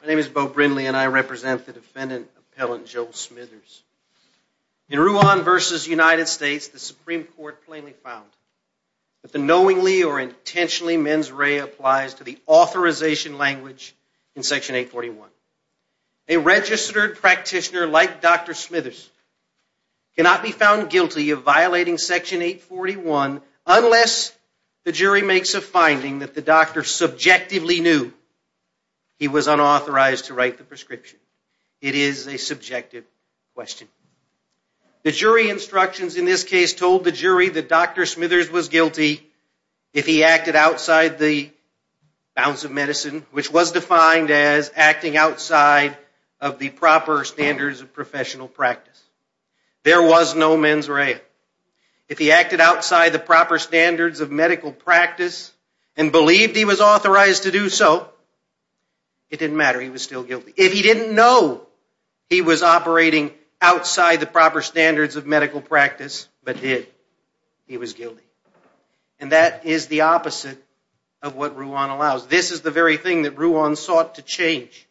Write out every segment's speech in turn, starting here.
My name is Bo Brindley and I represent the defendant appellant, Joel Smithers. In Ruan versus United States, the Supreme Court plainly found that the knowingly or intentionally mens rea applies to the authorization language in Section 841. A registered practitioner like Dr. Smithers cannot be found guilty of violating Section 841 unless the jury makes a finding that the doctor subjectively knew he was unauthorized to write the prescription. It is a subjective question. The jury instructions in this case told the jury that Dr. Smithers was guilty if he acted outside the bounds of medicine, which was defined as acting outside of the proper standards of professional practice. There was no mens rea. If he acted outside the proper standards of medical practice and believed he was authorized to do so, it didn't matter, he was still guilty. If he didn't know he was operating outside the proper standards of medical practice but did, he was guilty. And that is the opposite of what Ruan allows. This is the very thing that Ruan sought to change.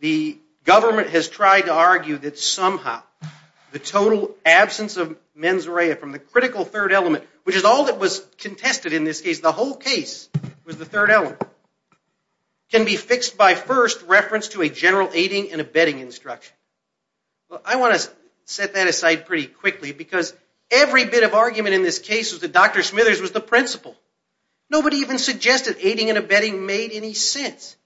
The government has tried to argue that somehow the total absence of mens rea from the critical third element, which is all that was contested in this case, the whole case was the third element, can be fixed by first reference to a general aiding and abetting instruction. I want to set that aside pretty quickly because every bit of argument in this case was that Dr. Smithers was the principal. Nobody even suggested aiding and abetting made any sense.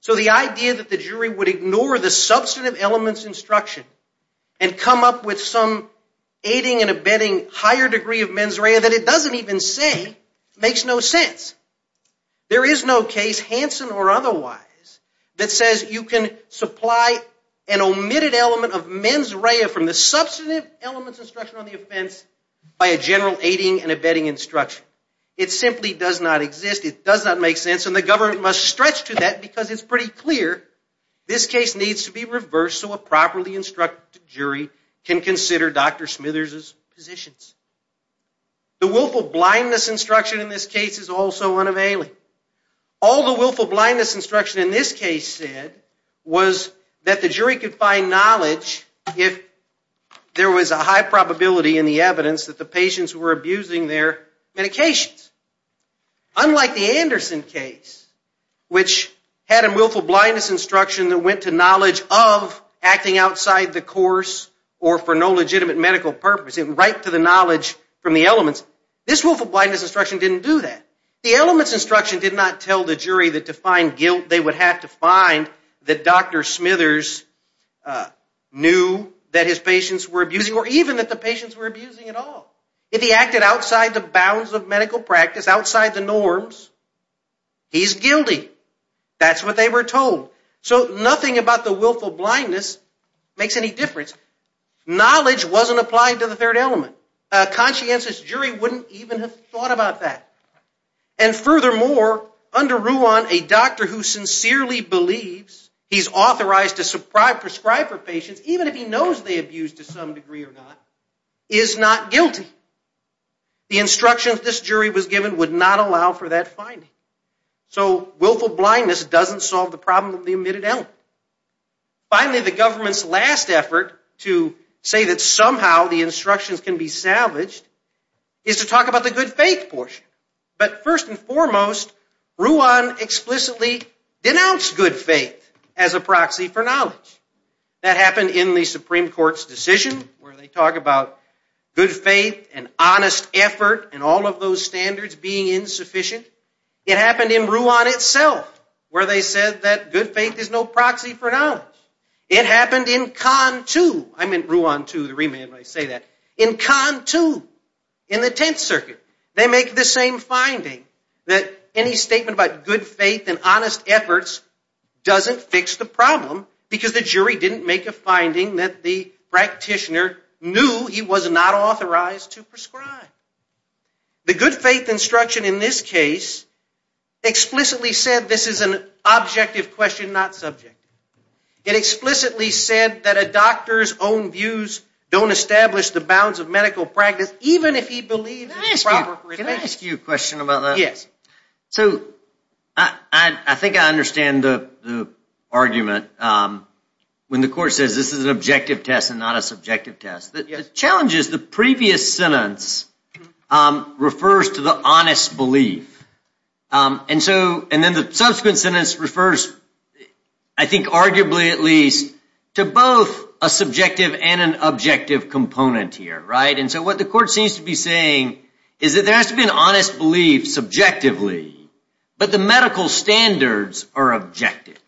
So the idea that the jury would ignore the substantive elements instruction and come up with some aiding and abetting higher degree of mens rea that it doesn't even say makes no sense. There is no case, Hansen or otherwise, that says you can supply an omitted element of mens rea from the substantive elements instruction on the offense by a general aiding and abetting instruction. It simply does not exist. It does not make sense and the government must stretch to that because it's pretty clear this case needs to be reversed so a properly instructed jury can consider Dr. Smithers' positions. The willful blindness instruction in this case is also unavailing. All the willful blindness instruction in this case said was that the jury could find knowledge if there was a high probability in the evidence that the patients were abusing their medications. Unlike the Anderson case which had a willful blindness instruction that went to knowledge of acting outside the course or for no legitimate medical purpose and right to the knowledge from the elements. This willful blindness instruction didn't do that. The elements instruction did not tell the jury that to find guilt they would have to find that Dr. Smithers knew that his patients were abusing or even that the patients were abusing at all. If he acted outside the bounds of medical practice, outside the norms, he's guilty. That's what they were told. So nothing about the willful blindness makes any difference. Knowledge wasn't applied to the third element. A conscientious jury wouldn't even have thought about that. And furthermore, under Ruan, a doctor who sincerely believes he's authorized to prescribe for patients, even if he knows they abuse to some degree or not, is not guilty. The instructions this jury was given would not allow for that finding. So willful blindness doesn't solve the problem of the omitted element. Finally, the government's last effort to say that somehow the instructions can be salvaged is to talk about the good faith portion. But first and foremost, Ruan explicitly denounced good faith as a proxy for knowledge. That happened in the Supreme Court's decision where they talk about good faith and honest effort and all of those standards being insufficient. It happened in Ruan itself, where they said that good faith is no proxy for knowledge. It happened in CON 2. I meant Ruan 2, the remand when I say that. In CON 2, in the Tenth Circuit, they make the same finding that any statement about good faith and honest efforts doesn't fix the problem because the jury didn't make a finding that the practitioner knew he was not authorized to prescribe. The good faith instruction in this case explicitly said this is an objective question, not subjective. It explicitly said that a doctor's own views don't establish the bounds of medical practice, even if he believes it's proper. Can I ask you a question about that? Yes. So, I think I understand the argument when the court says this is an objective test and not a subjective test. The challenge is the previous sentence refers to the honest belief. And so, and then the subsequent sentence refers, I think arguably at least, to both a subjective and an objective component here, right? And so what the court seems to be saying is that there has to be an honest belief subjectively, but the medical standards are objective,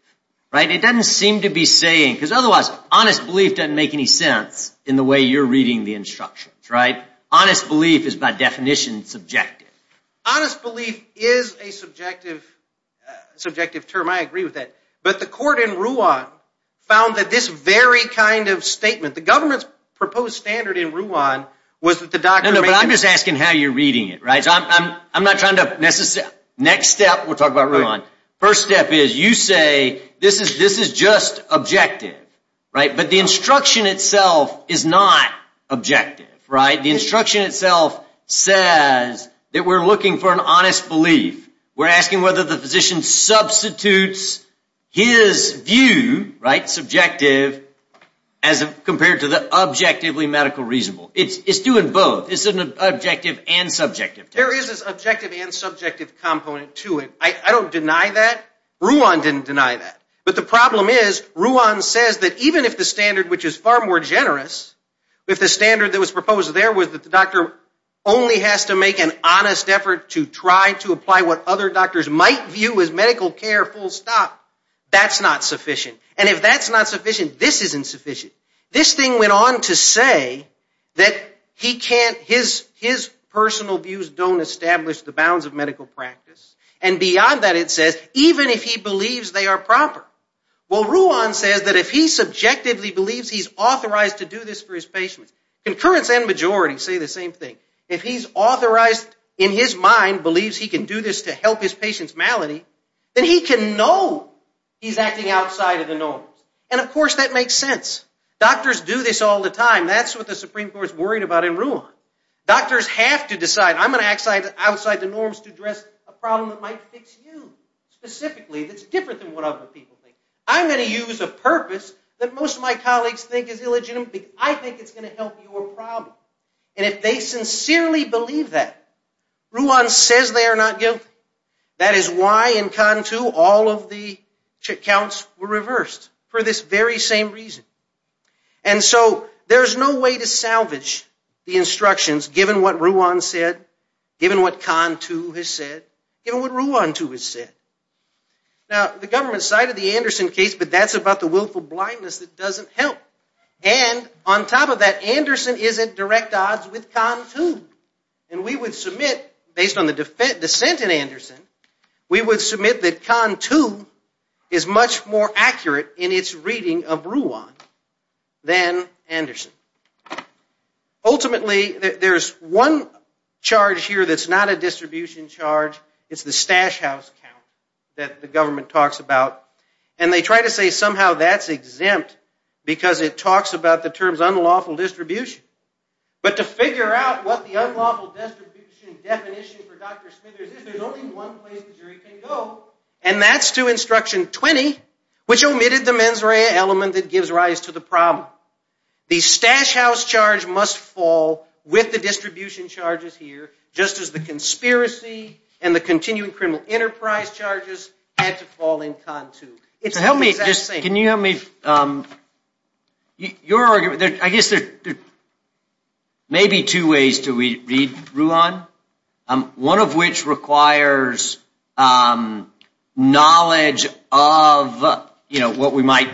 right? It doesn't seem to be saying, because otherwise honest belief doesn't make any sense in the way you're reading the instructions, right? Honest belief is by definition subjective. Honest belief is a subjective term. I agree with that. But the court in Ruan found that this very kind of statement, the government's proposed standard in Ruan was that the doctor... No, no, but I'm just asking how you're reading it, right? So I'm not trying to necessarily... Next step, we'll talk about Ruan. First step is you say, this is just objective, right? But the instruction itself is not objective, right? The instruction itself says that we're looking for an honest belief. We're asking whether the physician substitutes his view, right? Subjective as compared to the objectively medical reasonable. It's doing both. It's an objective and subjective. There is this objective and subjective component to it. I don't deny that. Ruan didn't deny that. But the problem is, Ruan says that even if the standard, which is far more generous, if the standard that was proposed there was that the doctor only has to make an honest effort to try to apply what other doctors might view as medical care full stop, that's not sufficient. And if that's not sufficient, this isn't sufficient. This thing went on to say that he can't... his personal views don't establish the bounds of medical practice. And beyond that it says, even if he believes they are proper. Well, Ruan says that if he subjectively believes he's authorized to do this for his patients, concurrence and majority say the same thing. If he's authorized, in his mind, believes he can do this to help his patients' malady, then he can know he's acting outside of the norms. And of course that makes sense. Doctors do this all the time. That's what the Supreme Court's worried about in Ruan. Doctors have to decide, I'm going to act outside the norms to address a problem that might fix you. Specifically, it's different than what other people think. I'm going to use a purpose that most of my colleagues think is illegitimate. I think it's going to help your problem. And if they sincerely believe that, Ruan says they are not guilty. That is why in KANTU all of the accounts were reversed for this very same reason. And so, there's no way to salvage the instructions given what Ruan said, given what KANTU has said, given what Ruan too has said. Now, the government cited the Anderson case, but that's about the willful blindness that doesn't help. And on top of that, Anderson isn't direct odds with KANTU. And we would submit, based on the dissent in Anderson, we would submit that KANTU is much more accurate in its reading of Ruan than Anderson. Ultimately, there's one charge here that's not a distribution charge. It's the Stash House count. That the government talks about. And they try to say somehow that's exempt because it talks about the terms unlawful distribution. But to figure out what the unlawful distribution definition for Dr. Smithers is, there's only one place the jury can go, and that's to instruction 20, which omitted the mens rea element that gives rise to the problem. The Stash House charge must fall with the distribution charges here, just as the conspiracy and the continuing criminal enterprise charges had to fall in KANTU. It's the exact same. Can you help me? Your argument, I guess there may be two ways to read Ruan. One of which requires knowledge of, you know, what we might,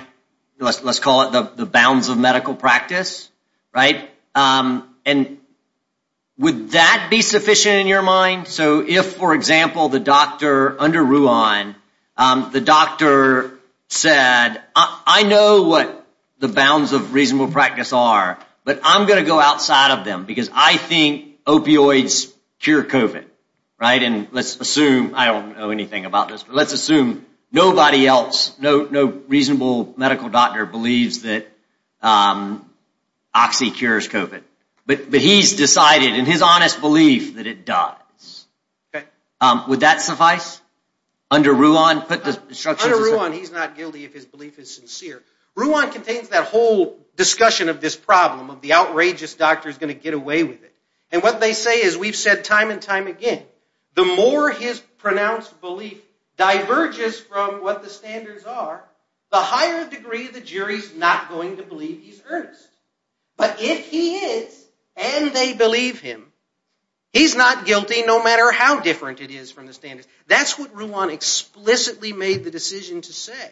let's call it the bounds of medical practice, right? And would that be sufficient in your mind? So if, for example, the doctor under Ruan, the doctor said, I know what the bounds of reasonable practice are, but I'm going to go outside of them because I think opioids cure COVID. Right? And let's assume, I don't know anything about this, but let's assume nobody else, no reasonable medical doctor believes that oxy cures COVID. But he's decided in his honest belief that it does. Okay, would that suffice under Ruan? Put the structure on. He's not guilty. If his belief is sincere, Ruan contains that whole discussion of this problem of the outrageous doctor is going to get away with it. And what they say is we've said time and time again, the more his pronounced belief diverges from what the standards are, the higher degree of the jury's not going to believe he's earnest. But if he is and they believe him, he's not guilty, no matter how different it is from the standards. That's what Ruan explicitly made the decision to say.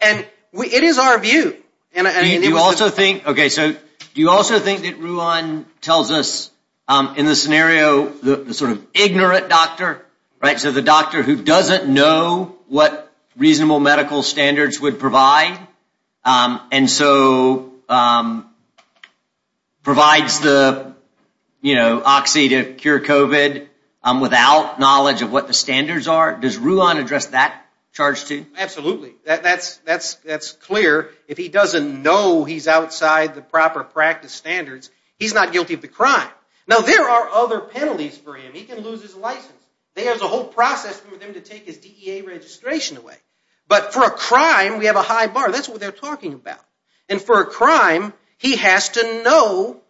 And it is our view. And I mean, you also think, okay, so do you also think that Ruan tells us in this scenario, the sort of ignorant doctor, right? So the doctor who doesn't know what reasonable medical standards would provide. And so provides the, you know, oxy to cure COVID without knowledge of what the standards are. Does Ruan address that charge too? Absolutely. That's clear. If he doesn't know he's outside the proper practice standards, he's not guilty of the crime. Now, there are other penalties for him. He can lose his license. There's a whole process for them to take his DEA registration away. But for a crime, we have a high bar. That's what they're talking about. And for a crime, he has to know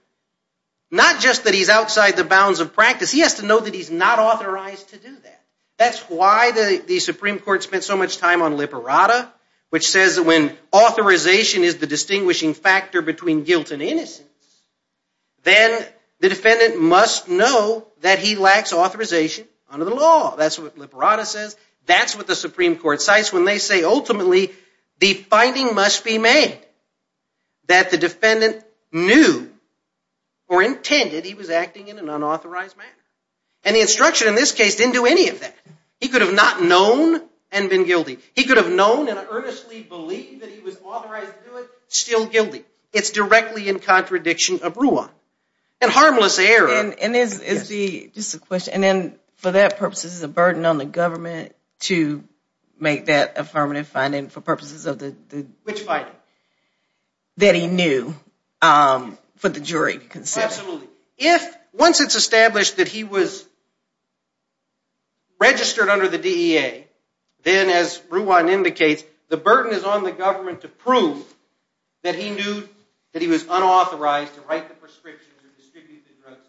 not just that he's outside the bounds of practice. He has to know that he's not authorized to do that. That's why the Supreme Court spent so much time on liberata, which says that when authorization is the distinguishing factor between guilt and innocence, then the defendant must know that he lacks authorization under the law. That's what liberata says. That's what the Supreme Court cites when they say ultimately the finding must be made that the defendant knew or intended he was acting in an unauthorized manner. And the instruction in this case didn't do any of that. He could have not known and been guilty. He could have known and earnestly believed that he was authorized to do it, still guilty. It's directly in contradiction of RUA and harmless error. And is the, just a question, and then for that purposes, is a burden on the government to make that affirmative finding for purposes of the... Which finding? That he knew for the jury. Absolutely. If, once it's established that he was registered under the DEA, then as RUA indicates, the burden is on the government to prove that he knew that he was unauthorized to write the prescriptions or distribute the drugs.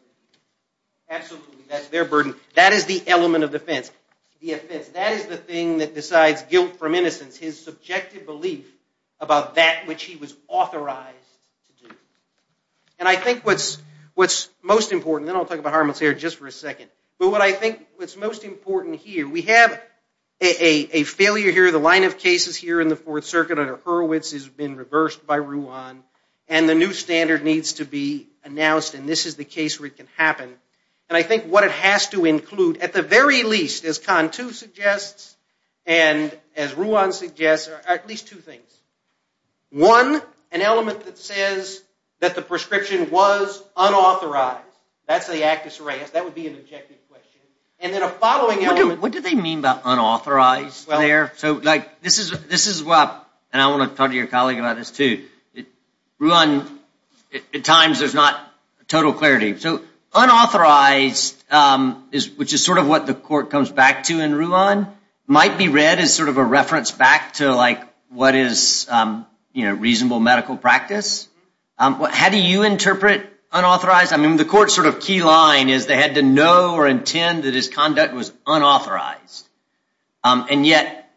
Absolutely, that's their burden. That is the element of defense. The offense. That is the thing that decides guilt from innocence. His subjective belief about that which he was authorized to do. And I think what's, what's most important, then I'll talk about harmless error just for a second. But what I think, what's most important here, we have a failure here, the line of cases here in the Fourth Circuit under Hurwitz has been reversed by RUA. And the new standard needs to be announced and this is the case where it can happen. And I think what it has to include, at the very least, as CON 2 suggests, and as RUA suggests, are at least two things. One, an element that says that the prescription was unauthorized. That's the actus reus. That would be an objective question. And then a following element. What do they mean by unauthorized there? So, like, this is, this is what, and I want to talk to your colleague about this too. RUA, at times, there's not total clarity. So, unauthorized is, which is sort of what the court comes back to in RUA, might be read as sort of a reference back to, like, what is, you know, reasonable medical practice. How do you interpret unauthorized? I mean, the court's sort of key line is they had to know or intend that his conduct was unauthorized. And yet,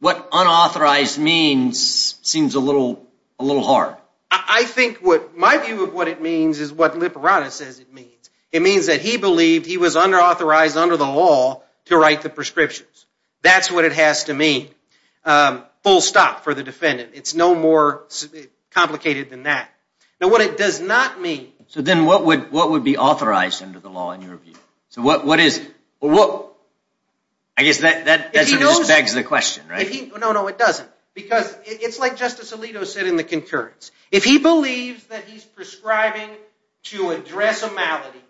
what unauthorized means seems a little, a little hard. I think what, my view of what it means is what Lipperana says it means. It means that he believed he was under authorized under the law to write the prescriptions. That's what it has to mean. Full stop for the defendant. It's no more complicated than that. Now, what it does not mean. So, then, what would, what would be authorized under the law in your view? So, what, what is, well, what, I guess that, that just begs the question, right? If he, no, no, it doesn't. Because it's like Justice Alito said in the concurrence. If he believes that he's prescribing to address a malady,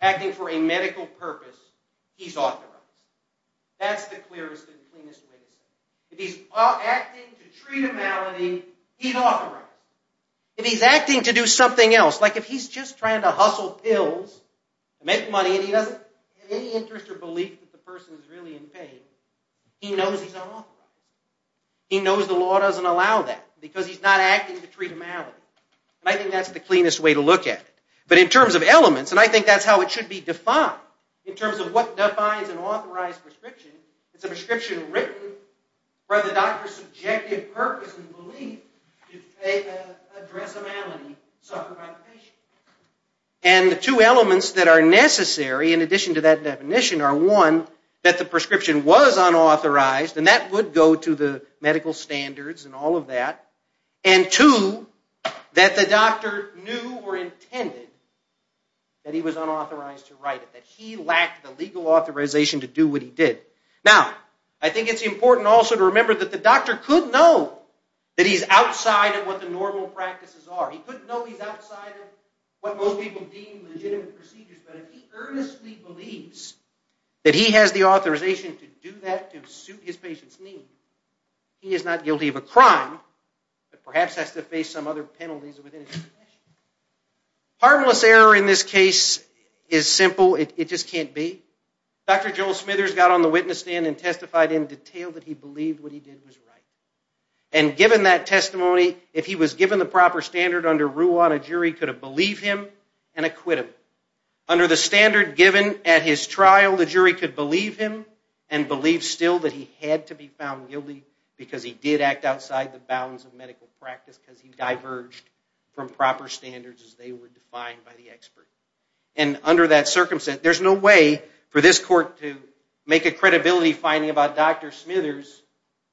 acting for a medical purpose, he's authorized. That's the clearest and cleanest way to say it. If he's acting to treat a malady, he's authorized. If he's acting to do something else, like if he's just trying to hustle pills, make money and he doesn't have any interest or belief that the person is really in pain, he knows he's unauthorized. He knows the law doesn't allow that because he's not acting to treat a malady. I think that's the cleanest way to look at it. But in terms of elements, and I think that's how it should be defined, in terms of what defines an authorized prescription. It's a prescription written by the doctor's subjective purpose and belief if they address a malady suffered by the patient. And the two elements that are necessary in addition to that definition are one, that the prescription was unauthorized and that would go to the medical standards and all of that. And two, that the doctor knew or intended that he was unauthorized to write it, that he lacked the legal authorization to do what he did. Now, I think it's important also to remember that the doctor could know that he's outside of what the normal practices are. He couldn't know he's outside of what most people deem legitimate procedures, but if he earnestly believes that he has the authorization to do that to suit his patient's need, he is not guilty of a crime that perhaps has to face some other penalties within his profession. Harmless error in this case is simple. It just can't be. Dr. Joel Smithers got on the witness stand and testified in detail that he believed what he did was right. And given that testimony, if he was given the proper standard under Ruan, a jury could have believed him and acquitted him. Under the standard given at his trial, the jury could believe him and believe still that he had to be found guilty because he did act outside the bounds of medical practice because he diverged from proper standards as they were defined by the expert. And under that circumstance, there's no way for this court to make a credibility finding about Dr. Smithers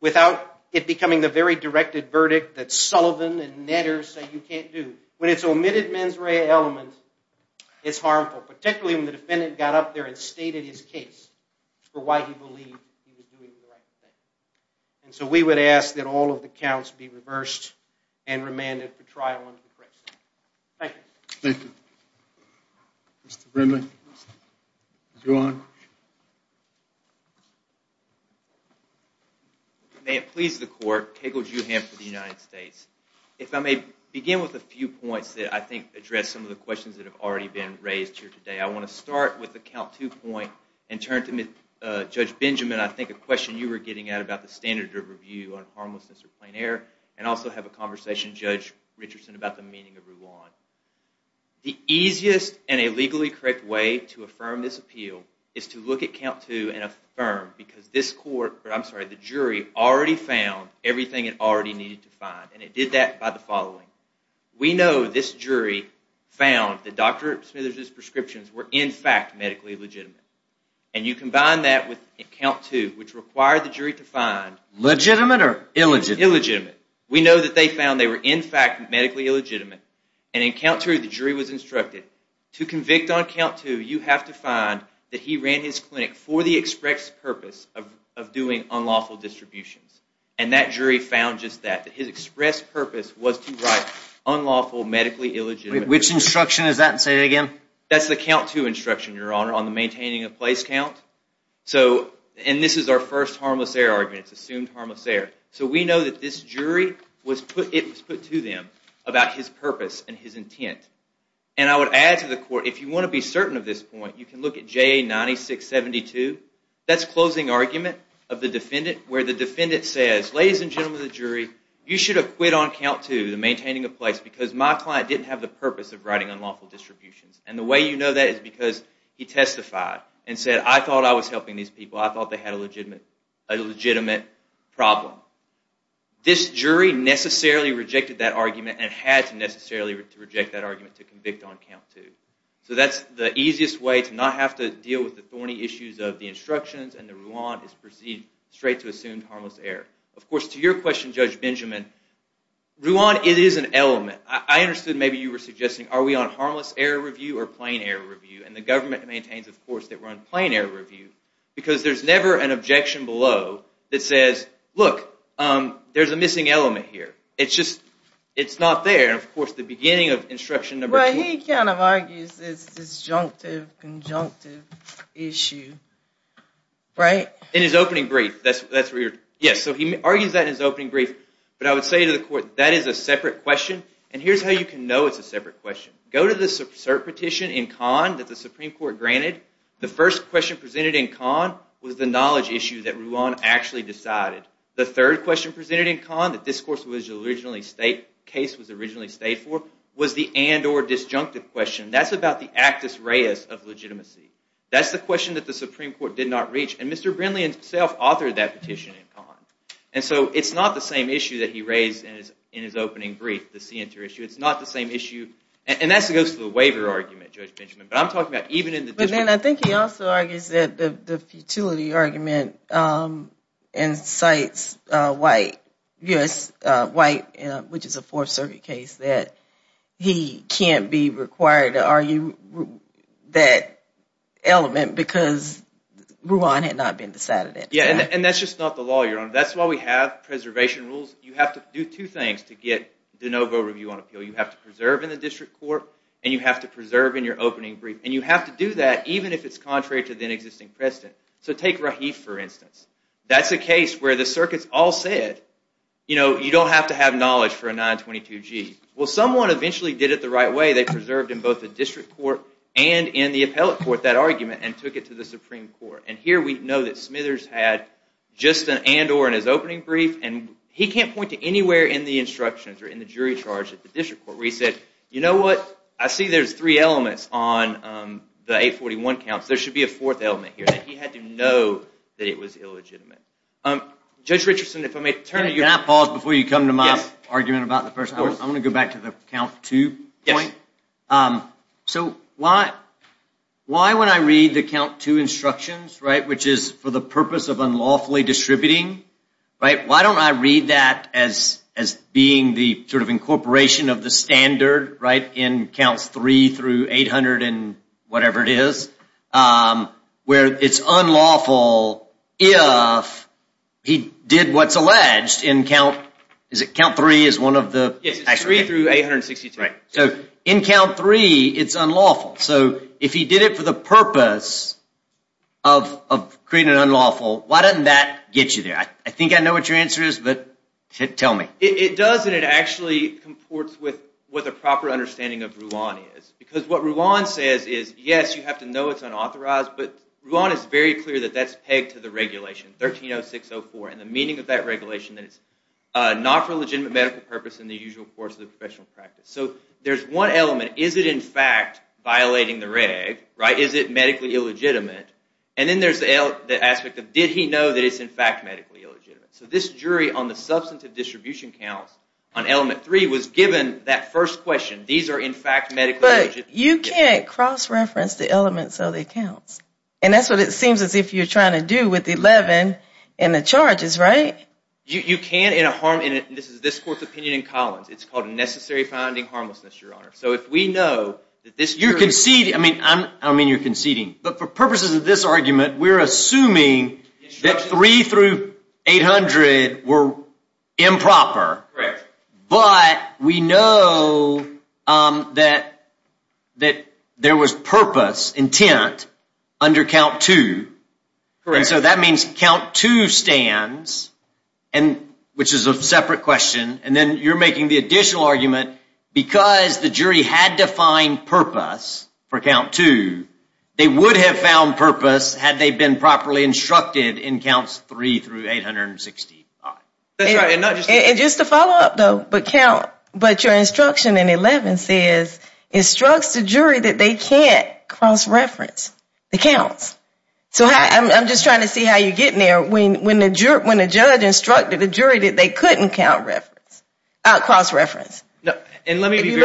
without it becoming the very directed verdict that Sullivan and Netter say you can't do. When it's omitted mens rea element, it's harmful, particularly when the defendant got up there and stated his case for why he believed he was doing the right thing. And so we would ask that all of the counts be reversed and remanded for trial and for correction. Thank you. Thank you. Mr. Brimley. Mr. Ruan. May it please the court, Kegel, Juham for the United States. If I may begin with a few points that I think address some of the questions that have already been raised here today. I want to start with the count two point and turn to Judge Benjamin. I think a question you were getting at about the standard of review on harmlessness or plain error and also have a conversation, Judge Richardson, about the meaning of Ruan. The easiest and a legally correct way to affirm this appeal is to look at count two and affirm because this court, I'm sorry, the jury already found everything it already needed to find and it did that by the following. We know this jury found that Dr. Smithers' prescriptions were in fact medically legitimate and you combine that with count two, which required the jury to find. Legitimate or illegitimate? Illegitimate. We know that they found they were in fact medically illegitimate and in count two, the jury was instructed to convict on count two, you have to find that he ran his clinic for the express purpose of doing unlawful distributions and that jury found just that, that his express purpose was to write unlawful, medically illegitimate. Which instruction is that and say it again? That's the count two instruction, Your Honor, on the maintaining a place count. So and this is our first harmless error argument. It's assumed harmless error. So we know that this jury was put, it was put to them about his purpose and his intent and I would add to the court, if you want to be certain of this point, you can look at JA 9672. That's closing argument of the defendant where the defendant says, ladies and gentlemen of the jury, you should have quit on count two, the maintaining a place because my client didn't have the purpose of writing unlawful distributions and the way you know that is because he testified and said, I thought I was helping these people. I thought they had a legitimate, a legitimate problem. This jury necessarily rejected that argument and had to necessarily reject that argument to convict on count two. So that's the easiest way to not have to deal with the thorny issues of the instructions and the Ruan is proceed straight to assumed harmless error. Of course, to your question, Judge Benjamin, Ruan, it is an element. I understood maybe you were suggesting, are we on harmless error review or plain error review? And the government maintains, of course, that we're on plain error review because there's never an objection below that says, look, there's a missing element here. It's just, it's not there. And of course, the beginning of instruction number four. But he kind of argues this disjunctive, conjunctive issue. Right? In his opening brief. That's where you're, yes. So he argues that in his opening brief. But I would say to the court, that is a separate question. And here's how you can know it's a separate question. Go to the cert petition in Kahn that the Supreme Court granted. The first question presented in Kahn was the knowledge issue that Ruan actually decided. The third question presented in Kahn, that discourse was originally state, case was originally state for, was the and or disjunctive question. That's about the actus reus of legitimacy. That's the question that the Supreme Court did not reach. And Mr. Brindley himself authored that petition in Kahn. And so it's not the same issue that he raised in his opening brief, the CNTR issue. It's not the same issue. And that goes to the waiver argument, Judge Benjamin. But I'm talking about even in the- But then I think he also argues that the futility argument, and cites White, U.S. White, which is a Fourth Circuit case, that he can't be required to argue that element because Ruan had not been decided yet. And that's just not the law, Your Honor. That's why we have preservation rules. You have to do two things to get de novo review on appeal. You have to preserve in the district court and you have to preserve in your opening brief. And you have to do that even if it's contrary to the existing precedent. So take Rahif, for instance. That's a case where the circuits all said, you know, you don't have to have knowledge for a 922-G. Well, someone eventually did it the right way. They preserved in both the district court and in the appellate court that argument and took it to the Supreme Court. And here we know that Smithers had just an and-or in his opening brief. And he can't point to anywhere in the instructions or in the jury charge at the district court where he said, you know what? I see there's three elements on the 841 counts. There should be a fourth element here that he had to know that it was illegitimate. Judge Richardson, if I may turn to you. Can I pause before you come to my argument about the first one? I'm going to go back to the count two point. So why when I read the count two instructions, right, which is for the purpose of unlawfully distributing, right, why don't I read that as being the sort of incorporation of the standard, right, in counts three through 800 and whatever it is, where it's unlawful if he did what's alleged in count, is it count three is one of the? Yes, it's three through 800 and 62. Right. So in count three, it's unlawful. So if he did it for the purpose of creating an unlawful, why doesn't that get you there? I think I know what your answer is, but tell me. It does and it actually comports with what the proper understanding of Ruan is. Because what Ruan says is, yes, you have to know it's unauthorized, but Ruan is very clear that that's pegged to the regulation, 130604 and the meaning of that regulation that it's not for legitimate medical purpose and the usual course of the professional practice. So there's one element. Is it in fact violating the reg, right? Is it medically illegitimate? And then there's the aspect of did he know that it's in fact medically illegitimate? So this jury on the substantive distribution counts on element three was given that first question. These are in fact medically illegitimate. You can't cross-reference the elements of the accounts. And that's what it seems as if you're trying to do with the 11 and the charges, right? You can in a harm, and this is this court's opinion in Collins. It's called a necessary finding harmlessness, Your Honor. So if we know that this jury... You're conceding. I mean, I don't mean you're conceding. But for purposes of this argument, we're assuming that three through 800 were improper. Correct. But we know that there was purpose intent under count two. Correct. So that means count two stands, and which is a separate question. And then you're making the additional argument because the jury had to find purpose for count two, they would have found purpose had they been properly instructed in counts three through 865. That's right. And just to follow up, though, but count, but your instruction in 11 says, instructs the jury that they can't cross-reference the counts. So I'm just trying to see how you're getting there when the judge instructed the jury that they couldn't cross-reference. And let me be very... If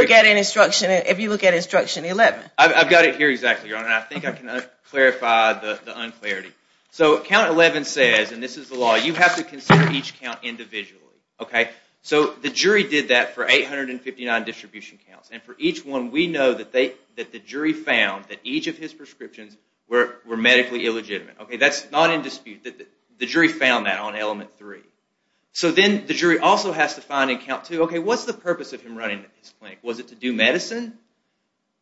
you look at instruction 11. I've got it here exactly, Your Honor. I think I can clarify the unclarity. So count 11 says, and this is the law, you have to consider each count individually, okay? So the jury did that for 859 distribution counts. And for each one, we know that the jury found that each of his prescriptions were medically illegitimate. Okay, that's not in dispute, that the jury found that on element three. So then the jury also has to find in count two, okay, what's the purpose of him running his clinic? Was it to do medicine?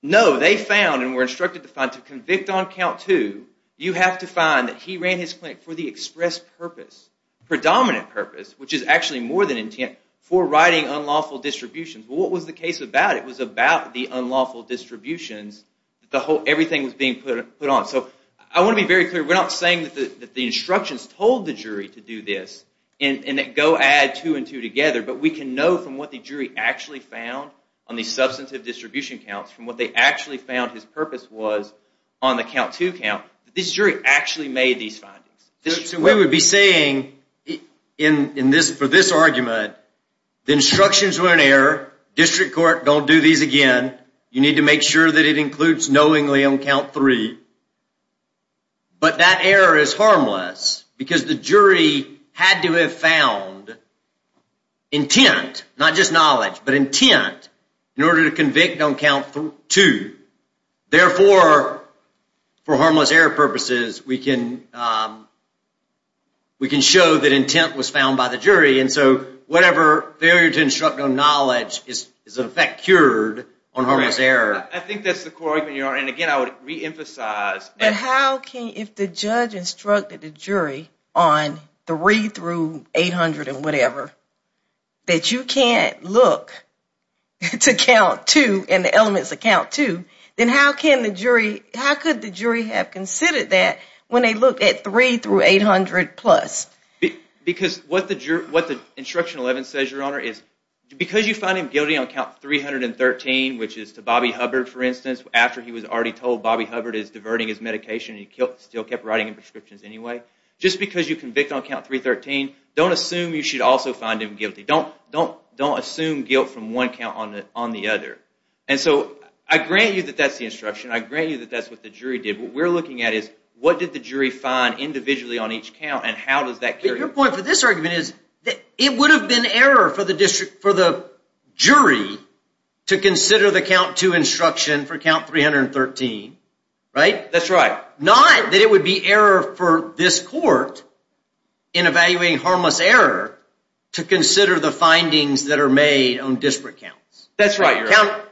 No, they found and were instructed to find, to convict on count two, you have to find that he ran his clinic for the express purpose, predominant purpose, which is actually more than intent, for writing unlawful distributions. Well, what was the case about? It was about the unlawful distributions that everything was being put on. So I want to be very clear. We're not saying that the instructions told the jury to do this and that go add two and two together, but we can know from what the jury actually found on the substantive distribution counts, from what they actually found his purpose was on the count two count, that this jury actually made these findings. So we would be saying in this, for this argument, the instructions were in error. District court, don't do these again. You need to make sure that it includes knowingly on count three. But that error is harmless because the jury had to have found intent, not just knowledge, but intent in order to convict on count two. Therefore, for harmless error purposes, we can show that intent was found by the jury. And so whatever failure to instruct on knowledge is in effect cured on harmless error. I think that's the core argument you're on. And again, I would reemphasize. But how can, if the judge instructed the jury on three through 800 and whatever, that you can't look to count two and the elements of count two, then how can the jury, how could the jury have considered that when they look at three through 800 plus? Because what the instruction 11 says, Your Honor, is because you find him guilty on count 313, which is to Bobby Hubbard, for instance, after he was already told Bobby Hubbard is diverting his medication and he still kept writing him prescriptions anyway. Just because you convict on count 313, don't assume you should also find him guilty. And so I grant you that that's the instruction. I grant you that that's what the jury did. What we're looking at is what did the jury find individually on each count and how does that carry? Your point for this argument is it would have been error for the jury to consider the count two instruction for count 313, right? That's right. Not that it would be error for this court to consider the findings that are made on disparate counts. That's right, Your Honor.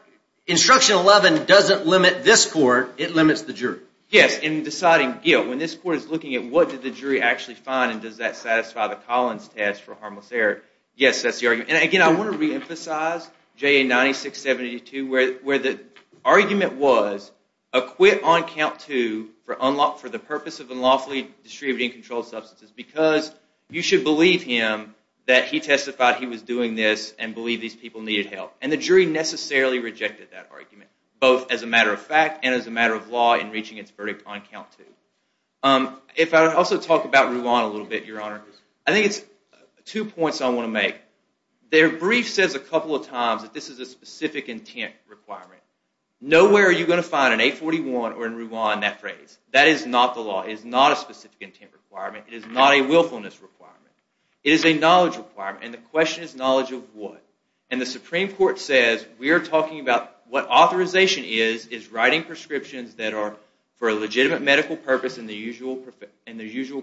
Instruction 11 doesn't limit this court. It limits the jury. Yes, in deciding guilt. When this court is looking at what did the jury actually find and does that satisfy the Collins test for harmless error? Yes, that's the argument. And again, I want to reemphasize JA 9672 where the argument was acquit on count two for the purpose of unlawfully distributing controlled substances because you should believe him that he testified he was doing this and believe these people needed help. And the jury necessarily rejected that argument both as a matter of fact and as a matter of law in reaching its verdict on count two. If I would also talk about Ruan a little bit, Your Honor. I think it's two points I want to make. Their brief says a couple of times that this is a specific intent requirement. Nowhere are you going to find an 841 or in Ruan that phrase. That is not the law. It is not a specific intent requirement. It is not a willfulness requirement. It is a knowledge requirement and the question is knowledge of what? And the Supreme Court says we are talking about what authorization is is writing prescriptions that are for a legitimate medical purpose in the usual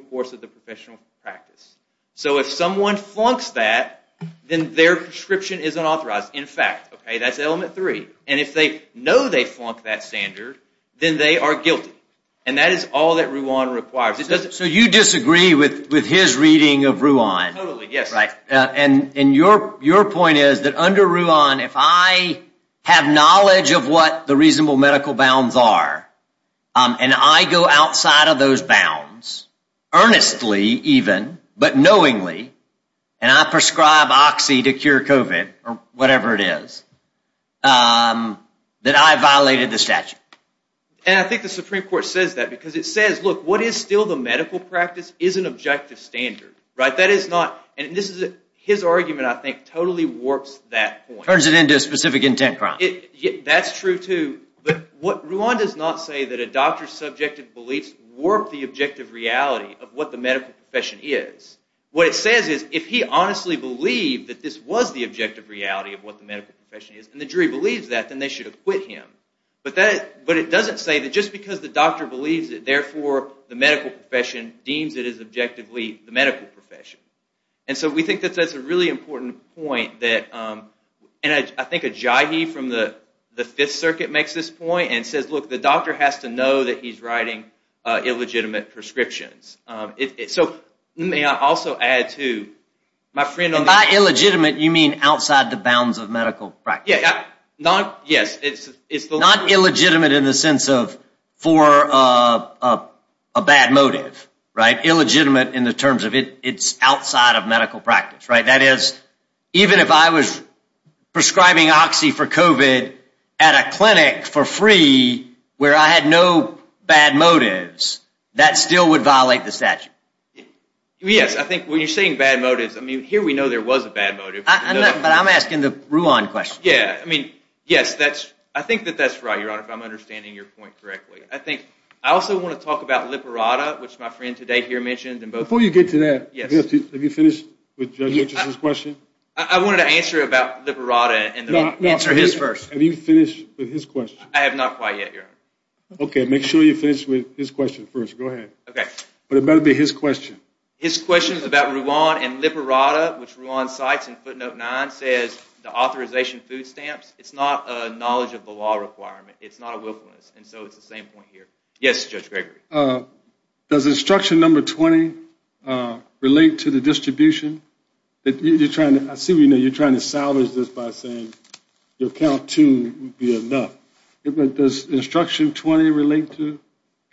course of the professional practice. So if someone flunks that then their prescription is unauthorized. In fact, okay, that's element three. And if they know they flunked that standard then they are guilty. And that is all that Ruan requires. So you disagree with his reading of Ruan? Totally, yes. Right. And your point is that under Ruan if I have knowledge of what the reasonable medical bounds are and I go outside of those bounds earnestly even but knowingly and I prescribe oxy to cure COVID or whatever it is that I violated the statute. And I think the Supreme Court says that because it says, look, what is still the medical practice is an objective standard, right? That is not and this is his argument I think totally warps that point. Turns it into a specific intent crime. That's true too. But what Ruan does not say that a doctor's subjective beliefs warp the objective reality of what the medical profession is. What it says is if he honestly believed that this was the objective reality of what the medical profession is and the jury believes that then they should have quit him. But it doesn't say that just because the doctor believes it therefore the medical profession deems it as objectively the medical profession. And so we think that's a really important point that and I think Ajayi from the the Fifth Circuit makes this point and says, look, the doctor has to know that he's writing illegitimate prescriptions. So may I also add to my friend on the By illegitimate you mean outside the bounds of medical practice. Yes, it's not illegitimate in the sense of for a bad motive, right? Illegitimate in the terms of it's outside of medical practice, right? That is even if I was prescribing oxy for COVID at a clinic for free where I had no bad motives that still would violate the statute. Yes, I think when you're saying bad motives, I mean here we know there was a bad motive. But I'm asking the Ruan question. Yeah. I mean, yes, that's I think that that's right. Your Honor, if I'm understanding your point correctly, I think I also want to talk about Liparada which my friend today here mentioned Before you get to that. Yes. Have you finished with Judge Richardson's question? I wanted to answer about Liparada and answer his first. Have you finished with his question? I have not quite yet, Your Honor. Okay, make sure you finish with his question first. Go ahead. Okay. But it better be his question. His question is about Ruan and Liparada which Ruan cites in footnote nine says the authorization food stamps. It's not a knowledge of the law requirement. It's not a willfulness. And so it's the same point here. Yes, Judge Gregory. Does instruction number 20 relate to the distribution that you're trying to assume, you know, you're trying to salvage this by saying your count to be enough. But does instruction 20 relate to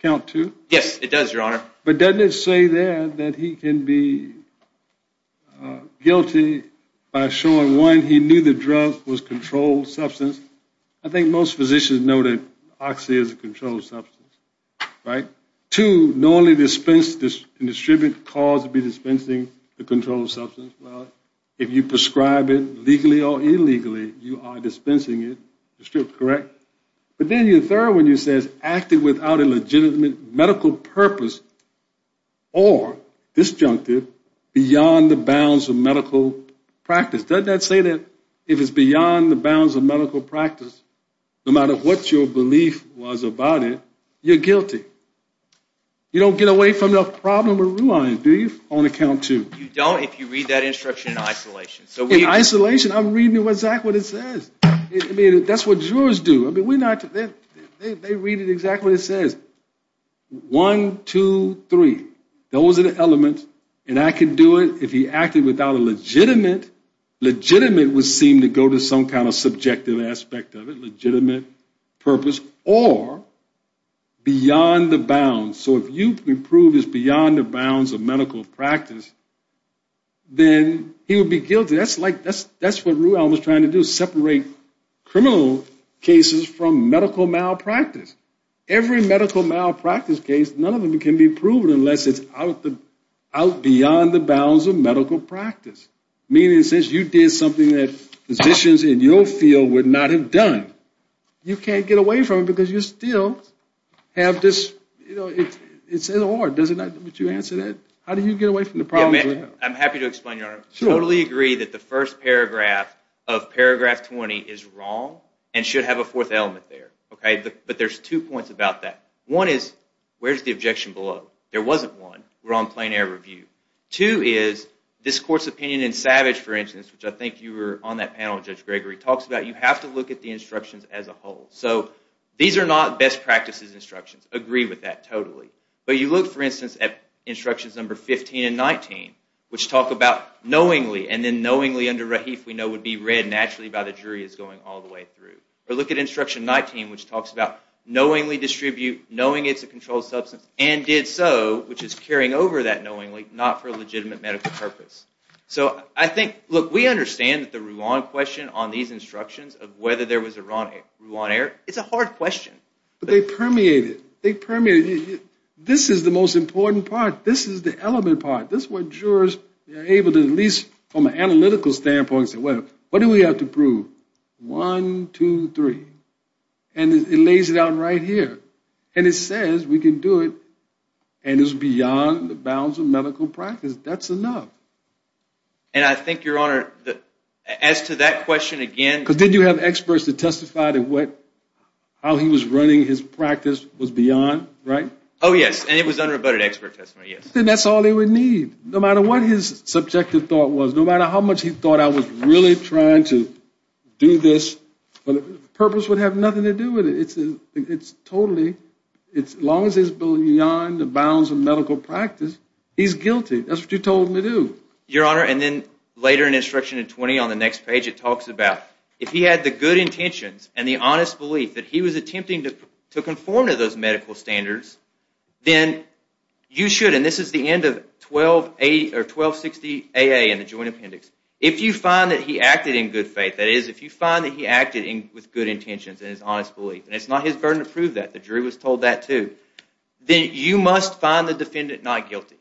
count to? Yes, it does, Your Honor. But doesn't it say there that he can be guilty by showing one. He knew the drug was controlled substance. I think most physicians know that oxy is a controlled substance, right? Two, normally dispense and distribute cause to be dispensing the controlled substance. Well, if you prescribe it legally or illegally, you are dispensing it, correct? But then your third one you says acted without a legitimate medical purpose or disjunctive beyond the bounds of medical practice. Doesn't that say that if it's beyond the bounds of medical practice, no matter what your belief was about it, you're guilty. You don't get away from the problem or realize, do you, on the count to? You don't if you read that instruction in isolation. In isolation, I'm reading exactly what it says. I mean, that's what jurors do. I mean, we're not, they read it exactly what it says. One, two, three. Those are the elements. And I can do it if he acted without a legitimate, legitimate would seem to go to some kind of subjective aspect of it, legitimate purpose or beyond the bounds. So if you prove it's beyond the bounds of medical practice, then he would be guilty. That's like, that's what Ruel was trying to do, separate criminal cases from medical malpractice. Every medical malpractice case, none of them can be proven unless it's out beyond the bounds of medical practice. Meaning since you did something that physicians in your field would not have done, you can't get away from it because you still have this, you know, it's in the law. Does it not, would you answer that? How do you get away from the problem? I'm happy to explain, Your Honor. I totally agree that the first paragraph of paragraph 20 is wrong and should have a fourth element there. Okay, but there's two points about that. One is, where's the objection below? There wasn't one. We're on plain air review. Two is, this court's opinion in Savage, for instance, which I think you were on that panel, Judge Gregory, talks about you have to look at the instructions as a whole. So these are not best practices instructions. Agree with that totally. But you look, for instance, at instructions number 15 and 19, which talk about knowingly and then knowingly under Rahif we know would be read naturally by the jury is going all the way through. Or look at instruction 19, which talks about knowingly distribute, knowing it's a controlled substance and did so, which is carrying over that knowingly, not for a legitimate medical purpose. So I think, look, we understand that the Ruan question on these instructions of whether there was a Ruan error, it's a hard question. But they permeated. They permeated. This is the most important part. This is the element part. This is what jurors are able to, at least from an analytical standpoint, say, well, what do we have to prove? One, two, three. And it lays it out right here. And it says we can do it. And it's beyond the bounds of medical practice. That's enough. And I think, Your Honor, as to that question again... Because didn't you have experts to testify to what, how he was running his practice was beyond, right? Oh, yes. And it was under a better expert testimony, yes. Then that's all they would need. No matter what his subjective thought was, no matter how much he thought I was really trying to do this, the purpose would have nothing to do with it. It's totally, as long as it's beyond the bounds of medical practice, he's guilty. That's what you told me to do. Your Honor, and then later in instruction in 20 on the next page, it talks about if he had the good intentions and the honest belief that he was attempting to conform to those medical standards, then you should, and this is the end of 1260AA in the Joint Appendix. If you find that he acted in good faith, that is, if you find that he acted with good intentions and his honest belief, and it's not his burden to prove that, the jury was told that too, then you must find the defendant not guilty.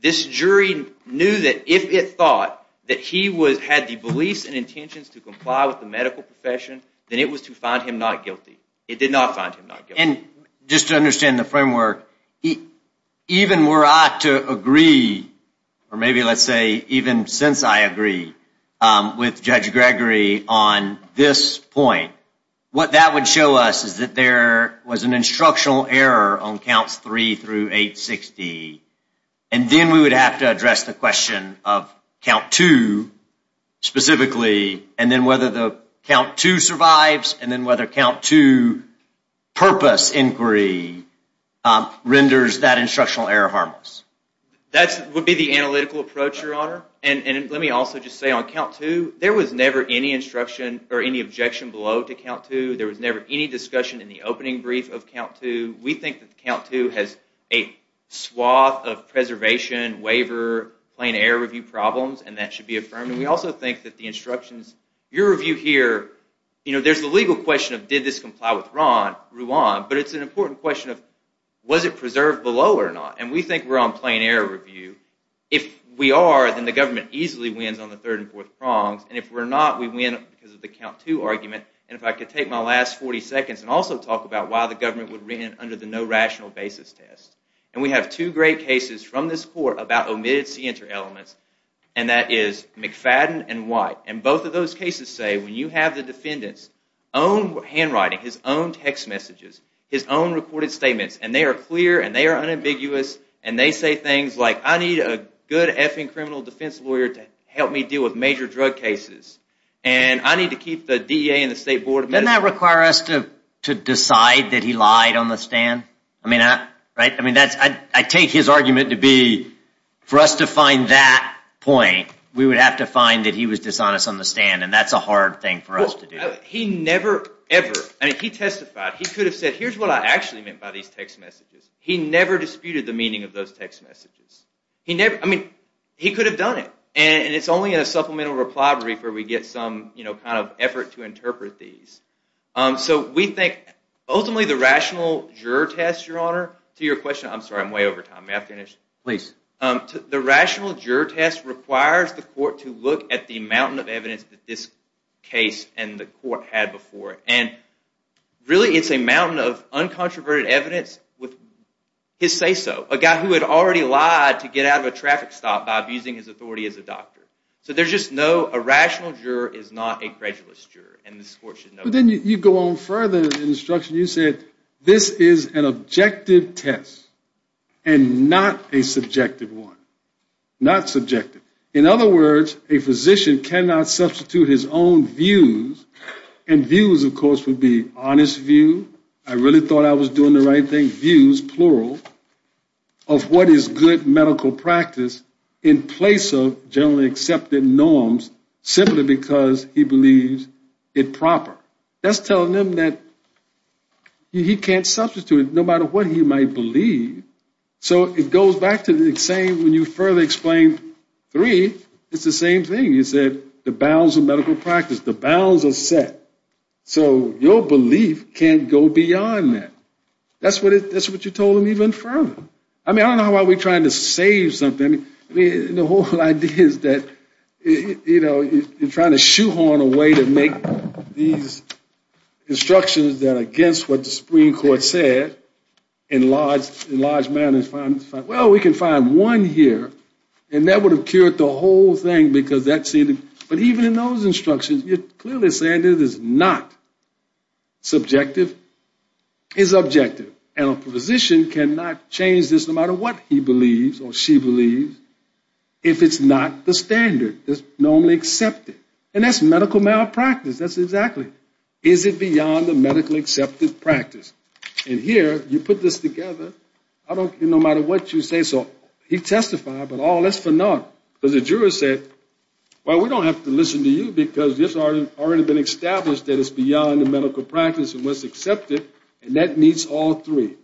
This jury knew that if it thought that he had the beliefs and intentions to comply with the medical profession, then it was to find him not guilty. It did not find him not guilty. And just to understand the framework, even were I to agree, or maybe let's say even since I agree with Judge Gregory on this point, what that would show us is that there was an instructional error on And then we would have to address the question of count two specifically, and then whether the count two survives, and then whether count two purpose inquiry renders that instructional error harmless. That would be the analytical approach, Your Honor. And let me also just say on count two, there was never any instruction or any objection below to count two. There was never any discussion in the opening brief of count two. We think that count two has a swath of preservation, waiver, plain error review problems, and that should be affirmed. And we also think that the instructions, your review here, you know, there's the legal question of did this comply with Ruan, but it's an important question of was it preserved below or not? And we think we're on plain error review. If we are, then the government easily wins on the third and fourth prongs. And if we're not, we win because of the count two argument. And if I could take my last 40 seconds and also talk about why the government would win under the no rational basis test. And we have two great cases from this court about omitted c-inter elements, and that is McFadden and White. And both of those cases say when you have the defendant's own handwriting, his own text messages, his own recorded statements, and they are clear, and they are unambiguous, and they say things like, I need a good effing criminal defense lawyer to help me deal with major drug cases, and I need to keep the DEA and the State Board of Attorney's to decide that he lied on the stand. I mean, right? I mean, I take his argument to be for us to find that point, we would have to find that he was dishonest on the stand, and that's a hard thing for us to do. He never, ever, I mean, he testified, he could have said, here's what I actually meant by these text messages. He never disputed the meaning of those text messages. He never, I mean, he could have done it. And it's only in a supplemental reprobate where we get some, you know, kind of effort to interpret these. So we think, ultimately, the rational juror test, Your Honor, to your question, I'm sorry, I'm way over time, may I finish? Please. The rational juror test requires the court to look at the mountain of evidence that this case and the court had before, and really, it's a mountain of uncontroverted evidence with his say-so, a guy who had already lied to get out of a traffic stop by abusing his authority as a doctor. So there's just no, a rational juror is not a credulous juror, and this court should know that. But then you go on further in the instruction, you said, this is an objective test and not a subjective one, not subjective. In other words, a physician cannot substitute his own views, and views, of course, would be honest view. I really thought I was doing the right thing, views, plural, of what is good medical practice in place of generally accepted norms, simply because he believes it proper. That's telling him that he can't substitute it, no matter what he might believe. So it goes back to the saying, when you further explain three, it's the same thing. You said, the bounds of medical practice, the bounds are set, so your belief can't go beyond that. That's what you told him even further. I mean, I don't know why we're trying to save something. I mean, the whole idea is that, you know, you're trying to shoehorn a way to make these instructions that are against what the Supreme Court said, in large, in large manners. Well, we can find one here, and that would have cured the whole thing, because that seemed to, but even in those instructions, you're clearly saying it is not subjective. It's objective, and a physician cannot change this, no matter what he believes or she believes, if it's not the standard that's normally accepted, and that's medical malpractice. That's exactly, is it beyond the medical accepted practice? And here, you put this together. I don't, no matter what you say, so he testified, but oh, that's phenomenal, because the jurors said, well, we don't have to listen to you, because this has already been established that it's beyond the medical practice and what's accepted, and that meets all three.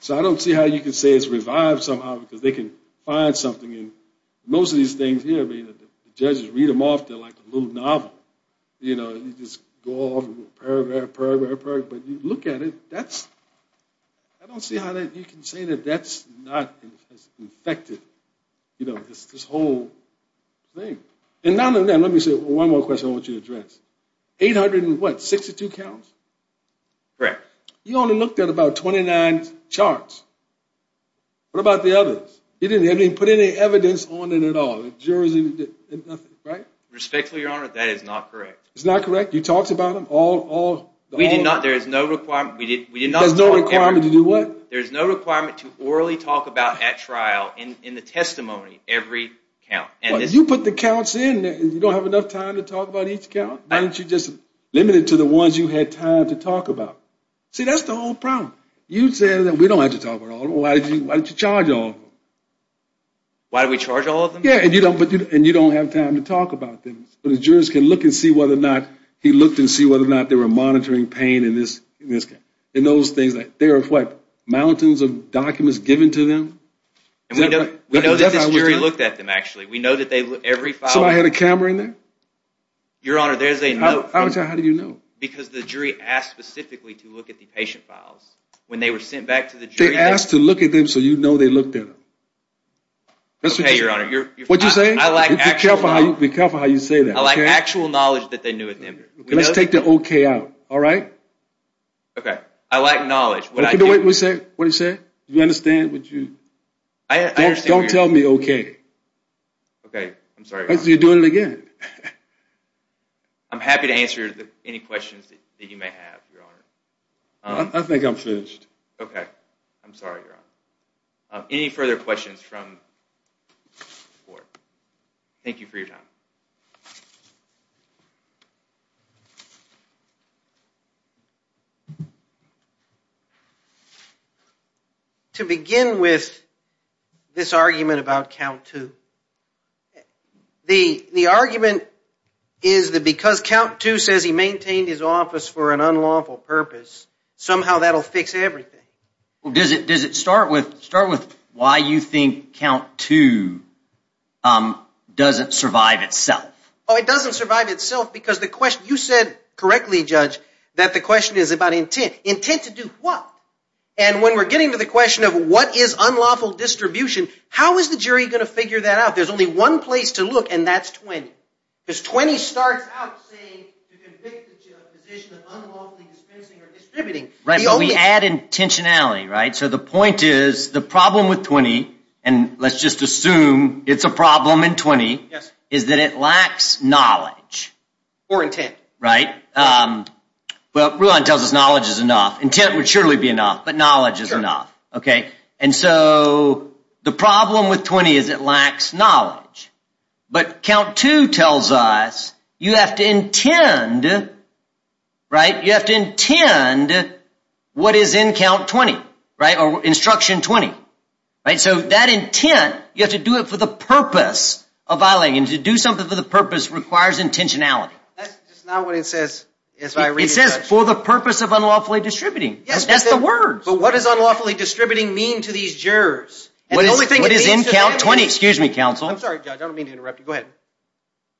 So I don't see how you can say it's revived somehow, because they can find something, and most of these things here, I mean, the judges read them off, they're like a little novel, you know, you just go off and pervert, pervert, pervert, but you look at it, that's, I don't see how that, you can say that that's not infected, you know, this whole thing. And now, let me say one more question I want you to address. Eight hundred and what, sixty-two counts? Correct. He only looked at about twenty-nine charts. What about the others? He didn't even put any evidence on it at all, the jurors didn't, nothing, right? Respectfully, Your Honor, that is not correct. It's not correct? You talked about them all, all? We did not, there is no requirement, we did, we did not. There's no requirement to do what? There's no requirement to orally talk about at trial, in the testimony, every count. But you put the counts in, you don't have enough time to talk about each count? Why don't you just limit it to the ones you had time to talk about? See, that's the whole problem. You said that we don't have to talk about all of them, why don't you charge all of them? Why do we charge all of them? Yeah, and you don't, but you, and you don't have time to talk about them, so the jurors can look and see whether or not, he looked and see whether or not they were monitoring pain in this, in this case, in those things that, there are what, mountains of documents given to them? And we know, we know that this jury looked at them, actually. We know that they, every file. So I had a camera in there? Your Honor, there's a note. I would say, how do you know? Because the jury asked specifically to look at the patient files, when they were sent back to the jury. They asked to look at them, so you know they looked at them. Okay, Your Honor, you're. What'd you say? I like actual knowledge. Be careful how you say that, okay? I like actual knowledge that they knew at the time. Let's take the okay out, all right? Okay, I like knowledge. What did you say? What'd you say? Do you understand? Would you? I understand. Okay, I'm sorry, Your Honor. You're doing it again. I'm happy to answer any questions that you may have, Your Honor. I think I'm finished. Okay. I'm sorry, Your Honor. Any further questions from the court? Thank you for your time. To begin with, this argument about Count Two. The argument is that because Count Two says he maintained his office for an unlawful purpose, somehow that'll fix everything. Well, does it start with why you think Count Two doesn't survive itself? Oh, it doesn't survive itself because the question, you said correctly, Judge, that the question is about intent. Intent to do what? And when we're getting to the question of what is unlawful distribution, how is the jury going to figure that out? There's only one place to look, and that's 20, because 20 starts out saying to convict a position of unlawfully dispensing or distributing. Right, but we add intentionality, right? So the point is, the problem with 20, and let's just assume it's a problem in 20, is that it lacks knowledge. Or intent. Right? But Rulon tells us knowledge is enough. Intent would surely be enough, but knowledge is enough, okay? And so the problem with 20 is it lacks knowledge. But Count Two tells us you have to intend, right? You have to intend what is in Count 20, right? Or Instruction 20, right? So that intent, you have to do it for the purpose of violating, and to do something for the purpose requires intentionality. That's just not what it says. It says for the purpose of unlawfully distributing. That's the word. But what is unlawfully distributing mean to these jurors? What is in Count 20? Excuse me, counsel. I'm sorry, Judge. I don't mean to interrupt you. Go ahead.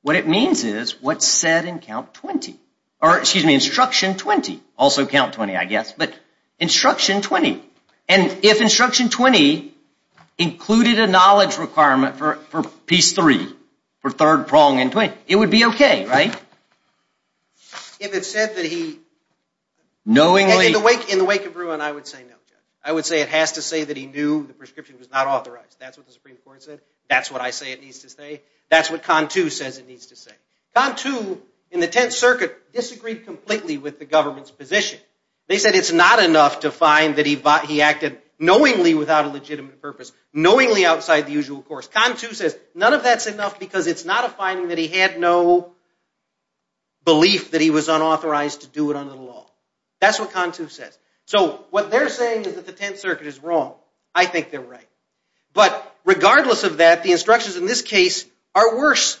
What it means is what's said in Count 20, or excuse me, Instruction 20. Also Count 20, I guess, but Instruction 20. And if Instruction 20 included a knowledge requirement for piece 3, for third prong in 20, it would be okay, right? If it said that he, knowingly, in the wake of Rulon, I would say no, Judge. I would say it has to say that he knew the prescription was not authorized. That's what the Supreme Court said. That's what I say it needs to say. That's what Count 2 says it needs to say. Count 2, in the Tenth Circuit, disagreed completely with the government's position. They said it's not enough to find that he acted knowingly without a legitimate purpose, knowingly outside the usual course. Count 2 says none of that's enough because it's not a finding that he had no belief that he was unauthorized to do it under the law. That's what Count 2 says. So what they're saying is that the Tenth Circuit is wrong. I think they're right. But regardless of that, the instructions in this case are worse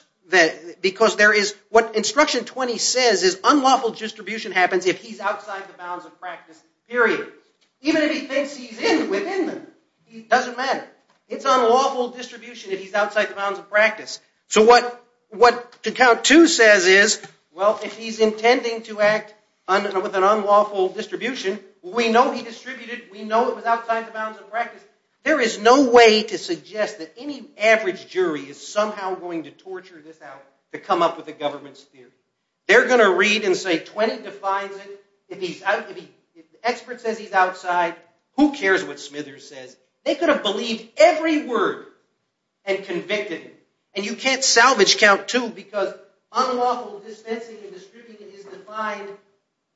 because there is what Instruction 20 says is unlawful distribution happens if he's outside the bounds of practice, period. Even if he thinks he's in within them, it doesn't matter. It's unlawful distribution if he's outside the bounds of practice. So what Count 2 says is, well, if he's intending to act with an unlawful distribution, we know he distributed. We know it was outside the bounds of practice. There is no way to suggest that any average jury is somehow going to torture this out to come up with a government's theory. They're going to read and say 20 defines it. If the expert says he's outside, who cares what Smithers says? They could have believed every word and convicted. And you can't salvage Count 2 because unlawful dispensing and distributing is defined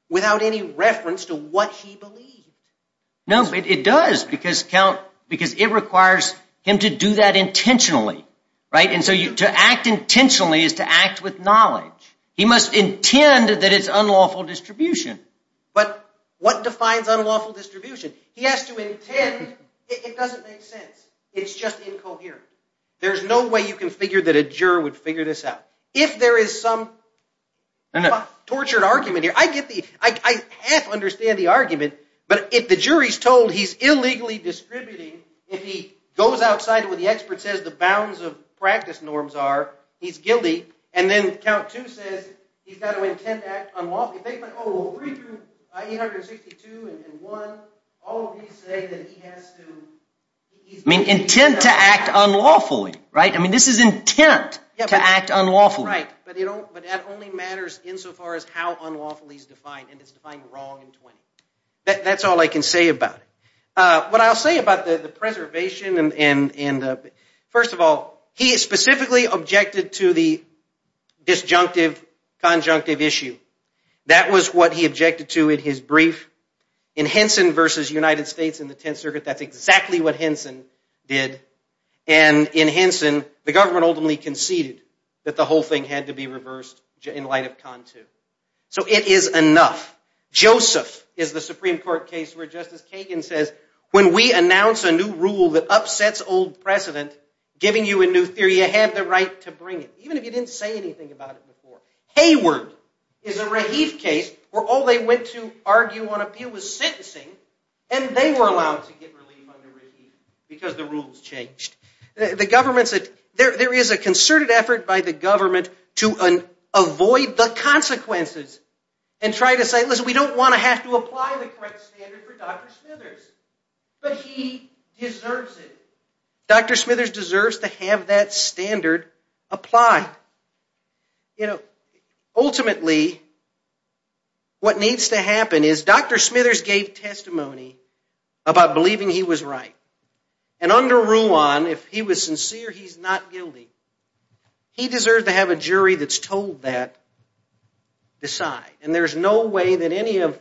without any reference to what he believes. No, it does because count because it requires him to do that intentionally, right? And so you to act intentionally is to act with knowledge. He must intend that it's unlawful distribution, but what defines unlawful distribution? He has to intend. It doesn't make sense. It's just incoherent. There's no way you can figure that a juror would figure this out. If there is some tortured argument here, I get the, I half understand the argument, but if the jury's told he's illegally distributing, if he goes outside what the expert says, the bounds of practice norms are, he's guilty. And then Count 2 says he's got to intend to act unlawfully. They've been, oh, 3 through 862 and 1, all of these say that he has to, I mean, intend to act unlawfully, right? I mean, this is intent to act unlawfully. Right, but you don't, but that only matters insofar as how unlawfully is defined and it's defined wrong in 20. That's all I can say about it. What I'll say about the preservation and the, first of all, he is specifically objected to the disjunctive conjunctive issue. That was what he objected to in his brief in Henson versus United States in the Tenth Circuit. That's exactly what Henson did and in Henson, the government ultimately conceded that the whole thing had to be reversed in light of Count 2. So it is enough. Joseph is the Supreme Court case where Justice Kagan says, when we announce a new rule that upsets old precedent, giving you a new theory, you have the right to bring it, even if you didn't say anything about it before. Hayward is a Rahif case where all they went to argue on appeal was sentencing and they were allowed to get relief under Rahif because the rules changed. The government said, there is a concerted effort by the government to avoid the we don't want to have to apply the correct standard for Dr. Smithers, but he deserves it. Dr. Smithers deserves to have that standard apply. You know, ultimately, what needs to happen is Dr. Smithers gave testimony about believing he was right and under Ruan, if he was sincere, he's not guilty. He deserves to have a jury that's told that decide. And there's no way that any of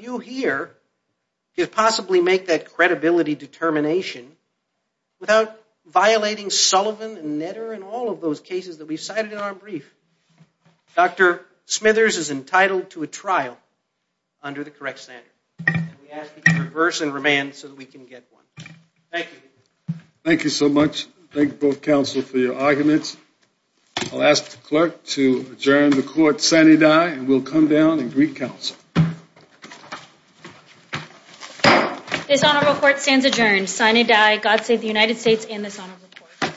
you here could possibly make that credibility determination without violating Sullivan and Netter and all of those cases that we've cited in our brief. Dr. Smithers is entitled to a trial under the correct standard. We ask that you reverse and remand so that we can get one. Thank you. Thank you so much. Thank you both counsel for your arguments. I'll ask the clerk to adjourn the court sine die and we'll come down and greet counsel. It's not a report stands adjourned sine die. God save the United States in this honor report.